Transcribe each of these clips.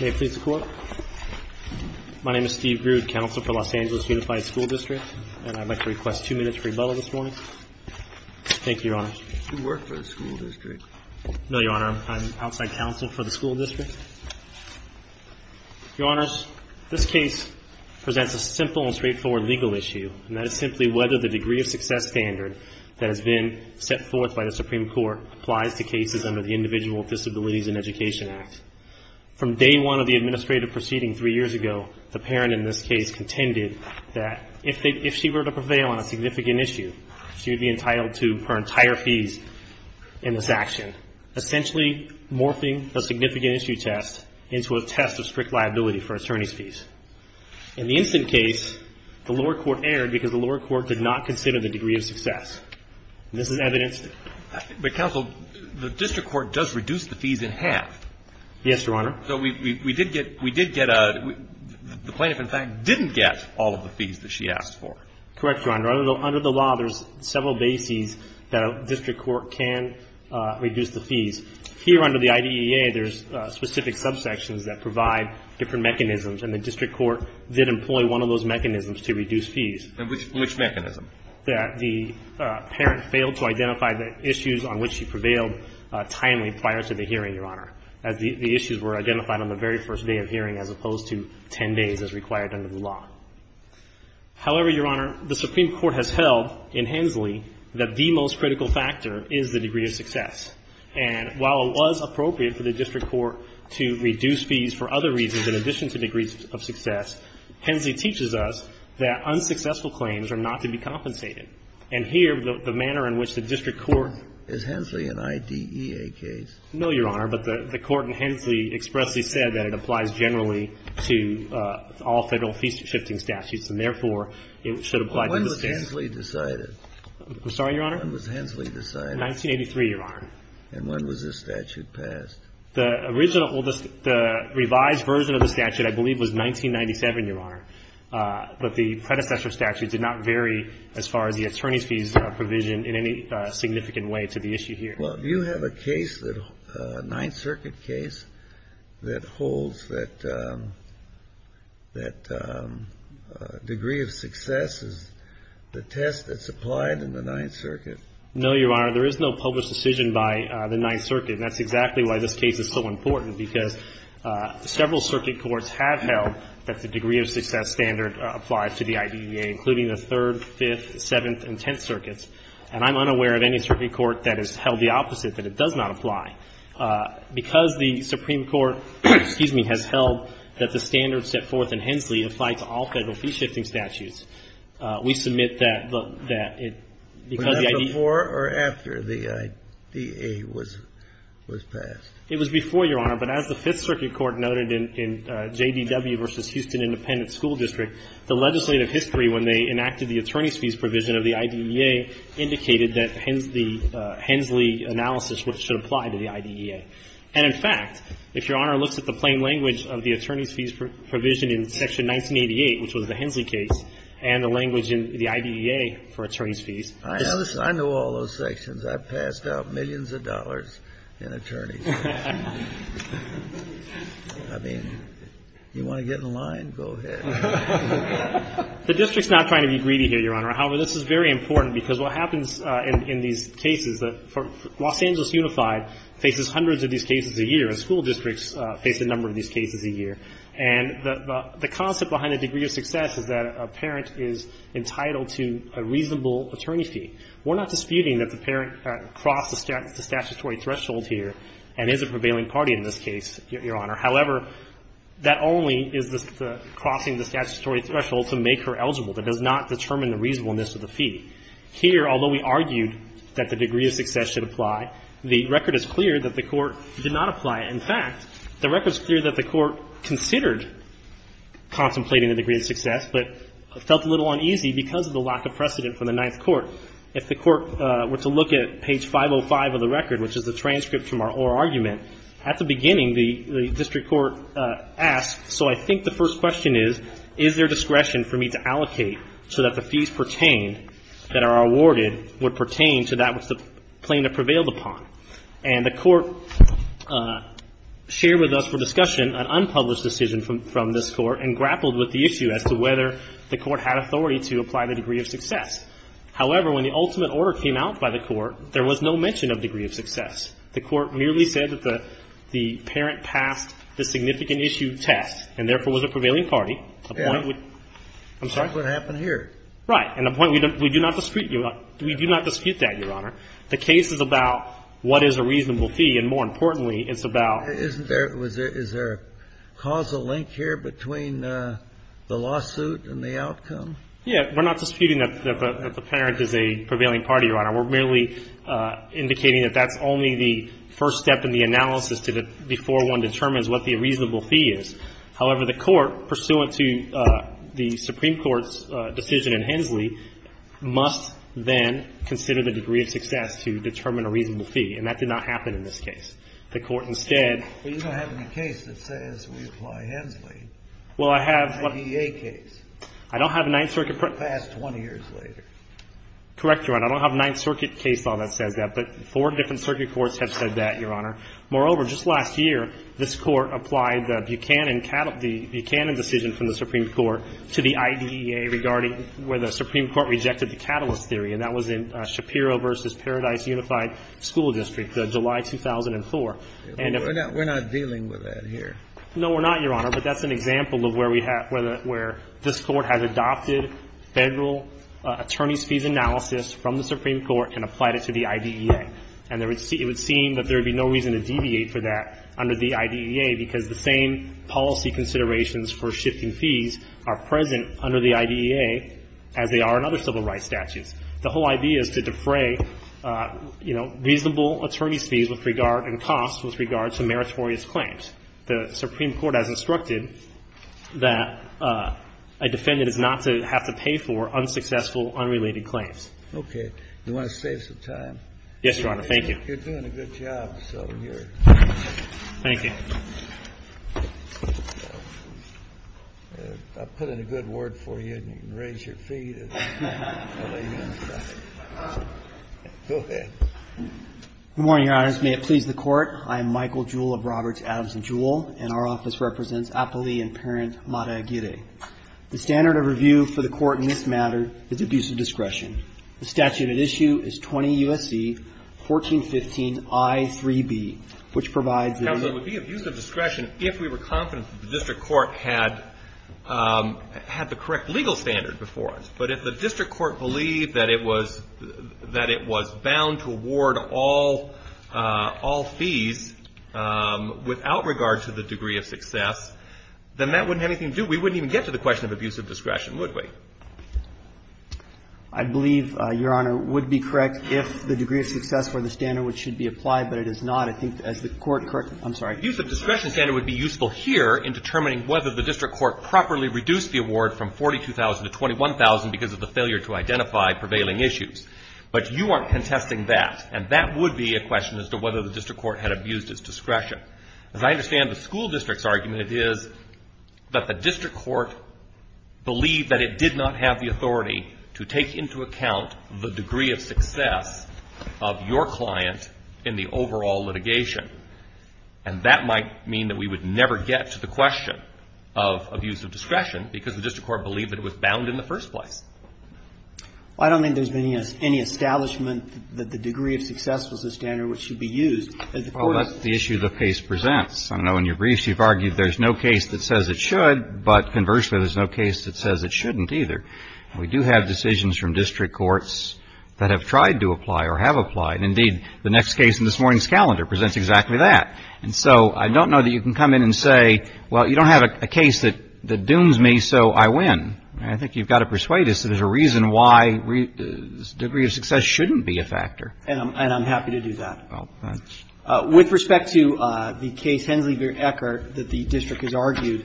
May it please the Court. My name is Steve Grude, Counsel for Los Angeles Unified School District, and I'd like to request two minutes for rebuttal this morning. Thank you, Your Honor. Do you work for the school district? No, Your Honor. I'm outside counsel for the school district. Your Honors, this case presents a simple and straightforward legal issue, and that is simply whether the degree of success standard that has been set forth by the Supreme Court applies to cases under the Individual Disabilities and Education Act. From day one of the administrative proceeding three years ago, the parent in this case contended that if she were to prevail on a significant issue, she would be entitled to her entire fees in this action, essentially morphing the significant issue test into a test of strict liability for attorney's fees. In the instant case, the lower court erred because the lower court did not consider the degree of success, and this is evidenced. But, Counsel, the district court does reduce the fees in half. Yes, Your Honor. So we did get the plaintiff, in fact, didn't get all of the fees that she asked for. Correct, Your Honor. Under the law, there's several bases that a district court can reduce the fees. Here under the IDEA, there's specific subsections that provide different mechanisms, and the district court did employ one of those mechanisms to reduce fees. And which mechanism? That the parent failed to identify the issues on which she prevailed timely prior to the hearing, Your Honor, as the issues were identified on the very first day of hearing as opposed to 10 days as required under the law. However, Your Honor, the Supreme Court has held in Hensley that the most critical factor is the degree of success. And while it was appropriate for the district court to reduce fees for other reasons in addition to degrees of success, Hensley teaches us that unsuccessful claims are not to be compensated. And here, the manner in which the district court Is Hensley an IDEA case? No, Your Honor, but the court in Hensley expressly said that it applies generally to all Federal fees-shifting statutes, and therefore, it should apply to this case. When was Hensley decided? I'm sorry, Your Honor? When was Hensley decided? 1983, Your Honor. And when was this statute passed? The revised version of the statute, I believe, was 1997, Your Honor. But the predecessor statute did not vary as far as the attorney's fees provision in any significant way to the issue here. Well, do you have a case, a Ninth Circuit case, that holds that degree of success is the test that's applied in the Ninth Circuit? No, Your Honor. There is no published decision by the Ninth Circuit. And that's exactly why this case is so important, because several circuit courts have held that the degree of success standard applies to the IDEA, including the Third, Fifth, Seventh, and Tenth Circuits. And I'm unaware of any circuit court that has held the opposite, that it does not apply. Because the Supreme Court, excuse me, has held that the standards set forth in Hensley apply to all Federal fee-shifting statutes, we submit that it because the IDEA But that's before or after the IDEA was passed? It was before, Your Honor. But as the Fifth Circuit Court noted in JDW v. Houston Independent School District, the legislative history, when they enacted the attorney's should apply to the IDEA. And, in fact, if Your Honor looks at the plain language of the attorney's fees provision in Section 1988, which was the Hensley case, and the language in the IDEA for attorney's fees. I know all those sections. I've passed out millions of dollars in attorney's fees. I mean, you want to get in line, go ahead. The district's not trying to be greedy here, Your Honor. However, this is very important, because what happens in these cases, Los Angeles Unified faces hundreds of these cases a year, and school districts face a number of these cases a year. And the concept behind the degree of success is that a parent is entitled to a reasonable attorney's fee. We're not disputing that the parent crossed the statutory threshold here and is a prevailing party in this case, Your Honor. However, that only is crossing the statutory threshold to make her eligible. That does not determine the reasonableness of the fee. Here, although we argued that the degree of success should apply, the record is clear that the Court did not apply it. In fact, the record's clear that the Court considered contemplating the degree of success, but felt a little uneasy because of the lack of precedent from the Ninth Court. If the Court were to look at page 505 of the record, which is the transcript from our oral argument, at the beginning, the district's court asked, so I think the first question is, is there discretion for me to allocate so that the fees pertain, that are awarded, would pertain to that which the plaintiff prevailed upon? And the Court shared with us for discussion an unpublished decision from this Court and grappled with the issue as to whether the Court had authority to apply the degree of success. However, when the ultimate order came out by the Court, there was no mention of degree of success. The Court merely said that the parent passed the significant issue test and, therefore, was a prevailing party. The point would be — I'm sorry? That's what happened here. Right. And the point — we do not dispute that, Your Honor. The case is about what is a reasonable fee, and more importantly, it's about — Isn't there — is there a causal link here between the lawsuit and the outcome? Yeah. We're not disputing that the parent is a prevailing party, Your Honor. We're merely indicating that that's only the first step in the analysis to the — before one determines what the reasonable fee is. However, the Court, pursuant to the Supreme Court's decision in Hensley, must then consider the degree of success to determine a reasonable fee, and that did not happen in this case. The Court instead — Well, you don't have any case that says we apply Hensley. Well, I have — An IDEA case. I don't have a Ninth Circuit — Passed 20 years later. Correct, Your Honor. I don't have a Ninth Circuit case law that says that. But four different circuit courts have said that, Your Honor. Moreover, just last year, this Court applied the Buchanan — the Buchanan decision from the Supreme Court to the IDEA regarding where the Supreme Court rejected the catalyst theory, and that was in Shapiro v. Paradise Unified School District, July 2004. And if — We're not dealing with that here. No, we're not, Your Honor. But that's an example of where we have — where this Court has adopted Federal attorneys' fees analysis from the Supreme Court and applied it to the IDEA. And it would seem that there would be no reason to deviate from that under the IDEA because the same policy considerations for shifting fees are present under the IDEA as they are in other civil rights statutes. The whole idea is to defray, you know, reasonable attorneys' fees with regard — and costs with regard to meritorious claims. The Supreme Court has instructed that a defendant is not to have to pay for unsuccessful, unrelated claims. Okay. Do you want to save some time? Yes, Your Honor. Thank you. You're doing a good job, so you're — Thank you. I'll put in a good word for you, and you can raise your feet. I'll lay you on the side. Go ahead. Good morning, Your Honors. May it please the Court. I am Michael Jewell of Roberts, Adams & Jewell, and our office represents Apolli and parent Mata Aguirre. The standard of review for the Court in this matter is abuse of discretion. The statute at issue is 20 U.S.C. 1415i3b, which provides — Counsel, it would be abuse of discretion if we were confident that the district court had the correct legal standard before us. But if the district court believed that it was bound to award all fees without regard to the degree of success, then that wouldn't have anything to do — we wouldn't even get to the question of abuse of discretion, would we? I believe, Your Honor, it would be correct if the degree of success for the standard which should be applied, but it is not. I think as the Court — I'm sorry. Abuse of discretion standard would be useful here in determining whether the district court properly reduced the award from $42,000 to $21,000 because of the failure to identify prevailing issues. But you aren't contesting that, and that would be a question as to whether the district court had abused its discretion. As I understand the school district's argument, it is that the district court believed that it did not have the authority to take into account the degree of success of your client in the overall litigation. And that might mean that we would never get to the question of abuse of discretion because the district court believed that it was bound in the first place. Well, I don't think there's been any establishment that the degree of success was the standard which should be used. Oh, that's the issue the case presents. I know in your briefs you've argued there's no case that says it should, but conversely there's no case that says it shouldn't either. We do have decisions from district courts that have tried to apply or have applied. And indeed, the next case in this morning's calendar presents exactly that. And so I don't know that you can come in and say, well, you don't have a case that dooms me, so I win. I think you've got to persuade us that there's a reason why degree of success shouldn't be a factor. And I'm happy to do that. With respect to the case, Hensley v. Eckert, that the district has argued,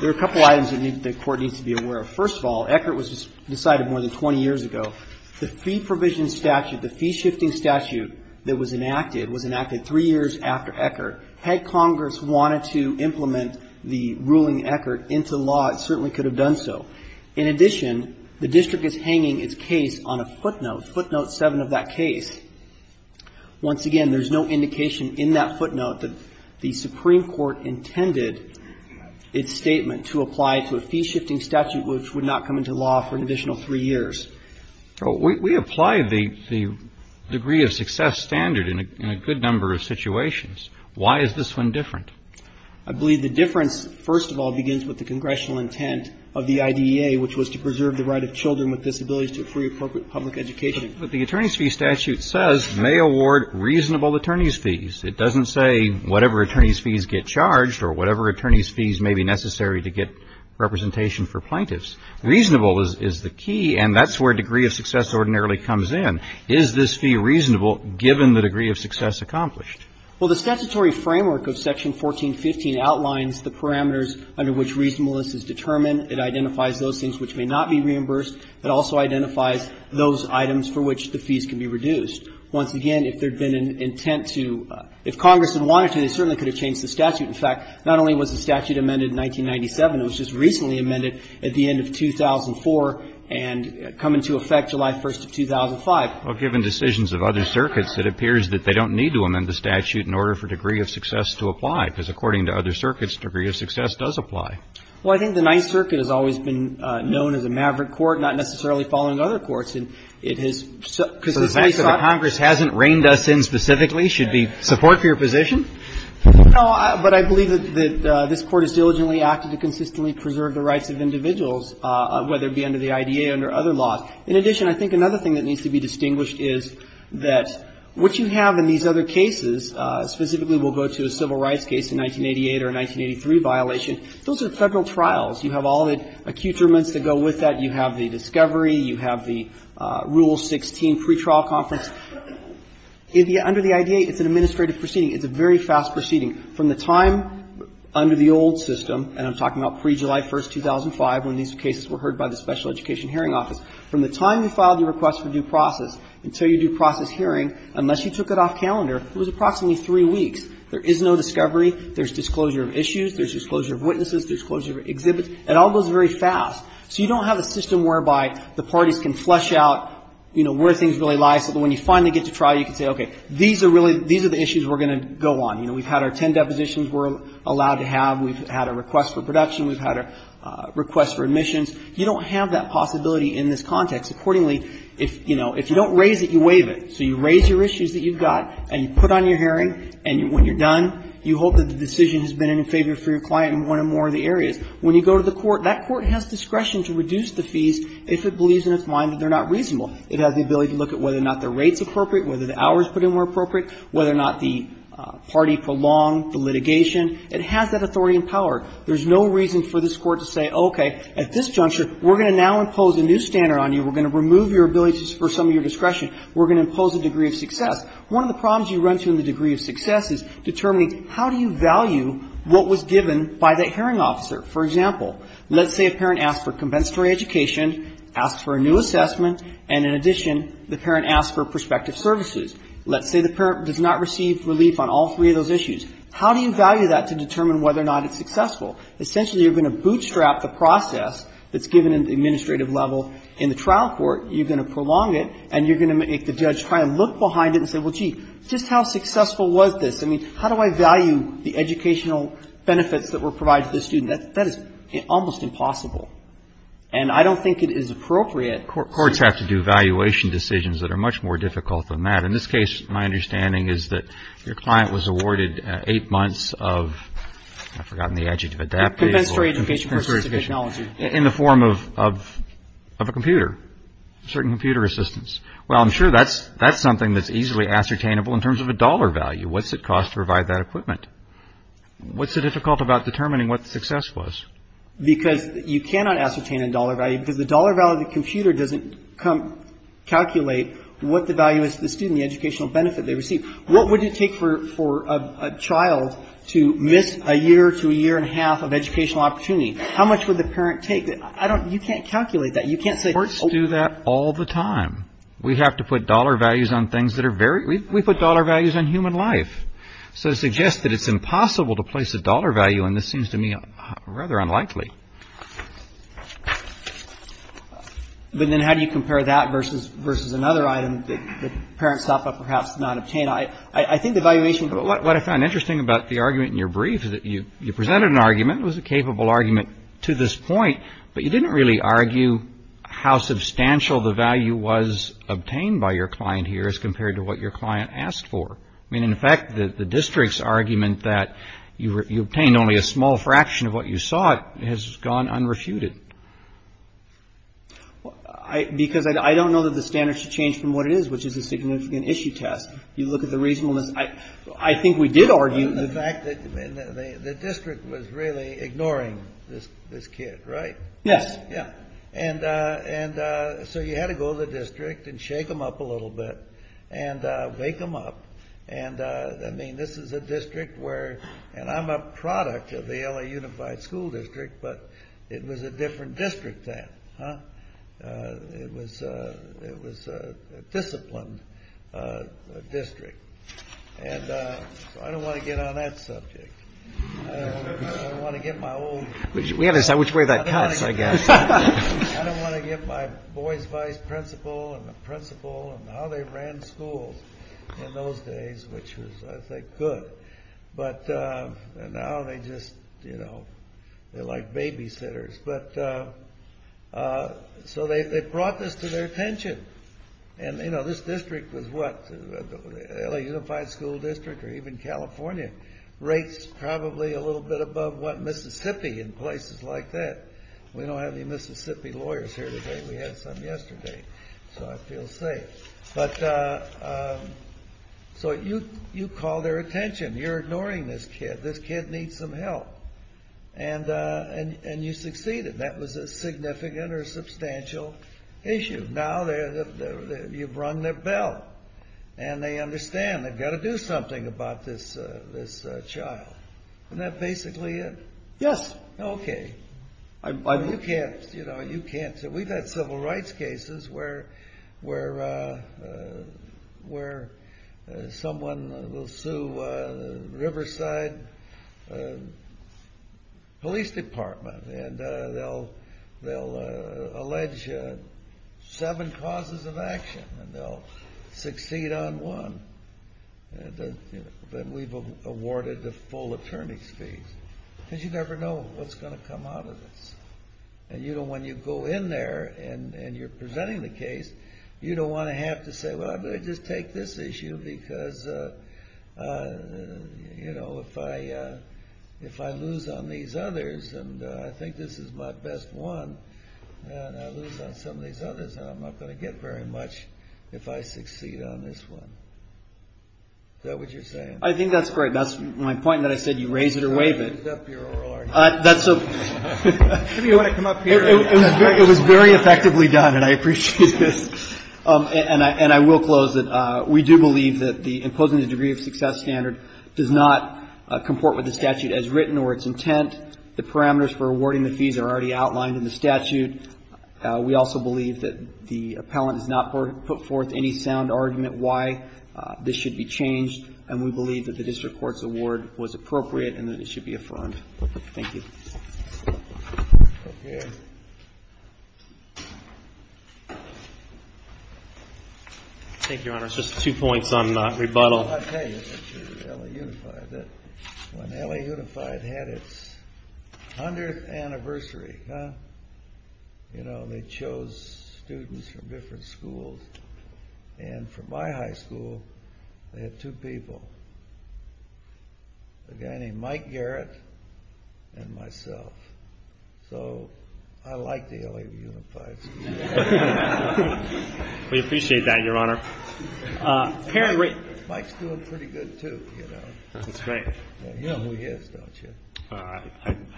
there are a couple of items that the court needs to be aware of. First of all, Eckert was decided more than 20 years ago. The fee provision statute, the fee-shifting statute that was enacted was enacted three years after Eckert. Had Congress wanted to implement the ruling in Eckert into law, it certainly could have done so. In addition, the district is hanging its case on a footnote, footnote 7 of that case. Once again, there's no indication in that footnote that the Supreme Court intended its statement to apply to a fee-shifting statute which would not come into law for an additional three years. We apply the degree of success standard in a good number of situations. Why is this one different? I believe the difference, first of all, begins with the congressional intent of the IDEA, which was to preserve the right of children with disabilities to a free, appropriate public education. But the attorneys' fee statute says may award reasonable attorneys' fees. It doesn't say whatever attorneys' fees get charged or whatever attorneys' fees may be necessary to get representation for plaintiffs. Reasonable is the key, and that's where degree of success ordinarily comes in. Is this fee reasonable given the degree of success accomplished? Well, the statutory framework of Section 1415 outlines the parameters under which reasonableness is determined. It identifies those things which may not be reimbursed. It also identifies those items for which the fees can be reduced. Once again, if there had been an intent to – if Congress had wanted to, they certainly could have changed the statute. In fact, not only was the statute amended in 1997, it was just recently amended at the end of 2004 and come into effect July 1st of 2005. Well, given decisions of other circuits, it appears that they don't need to amend the statute in order for degree of success to apply, because according to other circuits, degree of success does apply. Well, I think the Ninth Circuit has always been known as a maverick court, not necessarily following other courts. And it has – because the three – So the fact that Congress hasn't reined us in specifically should be support for your position? No, but I believe that this Court has diligently acted to consistently preserve the rights of individuals, whether it be under the IDA or under other laws. In addition, I think another thing that needs to be distinguished is that what you have in these other cases, specifically we'll go to a civil rights case in 1988 or a 1983 violation, those are Federal trials. You have all the accouterments that go with that. You have the discovery. You have the Rule 16 pretrial conference. Under the IDA, it's an administrative proceeding. It's a very fast proceeding. From the time under the old system, and I'm talking about pre-July 1st, 2005, when these cases were heard by the Special Education Hearing Office, from the time you filed your request for due process until your due process hearing, unless you took it off calendar, it was approximately three weeks. There is no discovery. There's disclosure of issues. There's disclosure of witnesses. There's disclosure of exhibits. It all goes very fast. So you don't have a system whereby the parties can flesh out, you know, where things really lie, so that when you finally get to trial, you can say, okay, these are really the issues we're going to go on. You know, we've had our ten depositions we're allowed to have. We've had a request for production. We've had a request for admissions. You don't have that possibility in this context. Accordingly, if, you know, if you don't raise it, you waive it. So you raise your issues that you've got and you put on your hearing, and when you're done, you hope that the decision has been in favor for your client in one or more of the areas. When you go to the court, that court has discretion to reduce the fees if it believes in its mind that they're not reasonable. It has the ability to look at whether or not the rate is appropriate, whether the hours put in were appropriate, whether or not the party prolonged the litigation. It has that authority and power. There's no reason for this court to say, okay, at this juncture, we're going to now impose a new standard on you. We're going to remove your abilities for some of your discretion. We're going to impose a degree of success. One of the problems you run into in the degree of success is determining how do you value what was given by that hearing officer. For example, let's say a parent asks for compensatory education, asks for a new assessment, and in addition, the parent asks for prospective services. Let's say the parent does not receive relief on all three of those issues. How do you value that to determine whether or not it's successful? Essentially, you're going to bootstrap the process that's given at the administrative level in the trial court. You're going to prolong it, and you're going to make the judge try and look behind it and say, well, gee, just how successful was this? I mean, how do I value the educational benefits that were provided to the student? That is almost impossible. And I don't think it is appropriate. Courts have to do valuation decisions that are much more difficult than that. In this case, my understanding is that your client was awarded eight months of, I've forgotten the adjective, adaptable. Compensatory education versus technology. In the form of a computer, certain computer assistance. Well, I'm sure that's something that's easily ascertainable in terms of a dollar value. What's it cost to provide that equipment? What's so difficult about determining what the success was? Because you cannot ascertain a dollar value. Because the dollar value of the computer doesn't calculate what the value is to the student, the educational benefit they receive. What would it take for a child to miss a year to a year and a half of educational opportunity? How much would the parent take? You can't calculate that. You can't say. Courts do that all the time. We have to put dollar values on things that are very, we put dollar values on human life. So to suggest that it's impossible to place a dollar value on this seems to me rather unlikely. But then how do you compare that versus another item that parents stop at perhaps not obtain? I think the valuation. What I found interesting about the argument in your brief is that you presented an argument. It was a capable argument to this point. But you didn't really argue how substantial the value was obtained by your client here as compared to what your client asked for. I mean, in fact, the district's argument that you obtained only a small fraction of what you sought has gone unrefuted. Because I don't know that the standard should change from what it is, which is a significant issue test. You look at the reasonableness. I think we did argue the fact that the district was really ignoring this kid, right? Yes. And so you had to go to the district and shake them up a little bit and wake them up. And I mean, this is a district where, and I'm a product of the LA Unified School District, but it was a different district then. It was a disciplined district. And so I don't want to get on that subject. I don't want to get my old. We have to decide which way that cuts, I guess. I don't want to get my boy's vice principal and the principal and how they ran schools in those days, which was, I think, good. But now they just, you know, they're like babysitters. But so they brought this to their attention. And, you know, this district was what? LA Unified School District or even California rates probably a little bit above what Mississippi in places like that. We don't have any Mississippi lawyers here today. We had some yesterday. So I feel safe. But so you call their attention. You're ignoring this kid. This kid needs some help. And you succeeded. That was a significant or substantial issue. Now you've rung their bell and they understand they've got to do something about this child. Isn't that basically it? Yes. Okay. You can't, you know, you can't. We've had civil rights cases where someone will sue Riverside Police Department. And they'll allege seven causes of action. And they'll succeed on one. But we've awarded the full attorney's fees. Because you never know what's going to come out of this. And, you know, when you go in there and you're presenting the case, you don't want to have to say, well, I'm going to just take this issue. Because, you know, if I lose on these others and I think this is my best one and I lose on some of these others, I'm not going to get very much if I succeed on this one. Is that what you're saying? I think that's great. That's my point that I said you raise it or waive it. It was very effectively done. And I appreciate this. And I will close that we do believe that imposing the degree of success standard does not comport with the statute as written or its intent. The parameters for awarding the fees are already outlined in the statute. We also believe that the appellant has not put forth any sound argument why this should be changed. And we believe that the district court's award was appropriate and that it should be affirmed. Thank you. Thank you, Your Honor. Just two points on rebuttal. I'll tell you, when LA Unified had its 100th anniversary, you know, they chose students from different schools. And from my high school, they had two people, a guy named Mike Garrett and myself. So I like the LA Unified students. We appreciate that, Your Honor. Mike's doing pretty good too, you know. That's great. You know who he is, don't you? I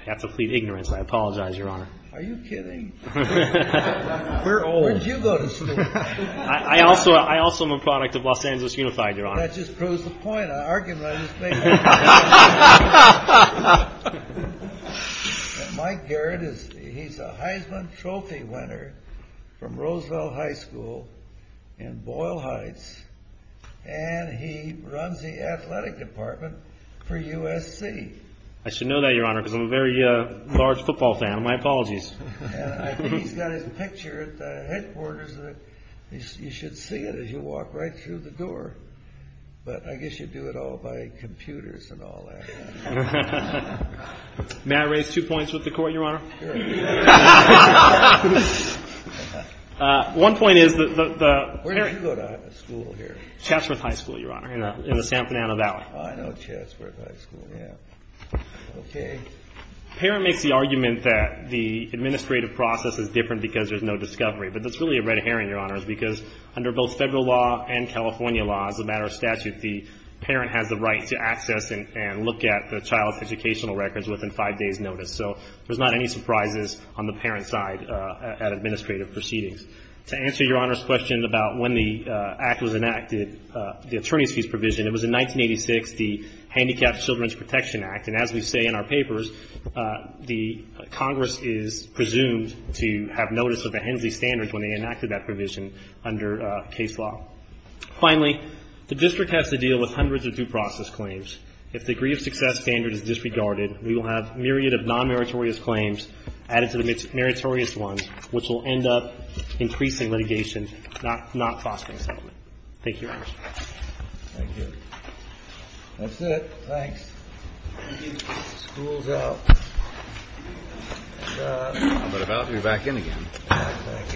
have to plead ignorance. I apologize, Your Honor. Are you kidding? We're old. Where did you go to school? I also am a product of Los Angeles Unified, Your Honor. That just proves the point. I argued about this thing. Mike Garrett, he's a Heisman Trophy winner from Roosevelt High School in Boyle Heights. And he runs the athletic department for USC. I should know that, Your Honor, because I'm a very large football fan. My apologies. He's got his picture at the headquarters. You should see it as you walk right through the door. But I guess you do it all by computers and all that. May I raise two points with the court, Your Honor? Sure. One point is that the- Where did you go to school here? Chatsworth High School, Your Honor, in the San Fernando Valley. Oh, I know Chatsworth High School, yeah. Okay. Parent makes the argument that the administrative process is different because there's no discovery. But that's really a red herring, Your Honor, because under both federal law and California law as a matter of statute, the parent has the right to access and look at the child's educational records within five days' notice. So there's not any surprises on the parent's side at administrative proceedings. To answer Your Honor's question about when the act was enacted, the attorney's fees provision, it was in 1986, the Handicapped Children's Protection Act. And as we say in our papers, the Congress is presumed to have notice of the Hensley Standards when they enacted that provision under case law. Finally, the district has to deal with hundreds of due process claims. If the degree of success standard is disregarded, we will have myriad of non-meritorious claims added to the meritorious ones, which will end up increasing litigation, not fostering settlement. Thank you, Your Honor. Thank you. That's it. Thanks. The school's out. How about we back in again? Back in.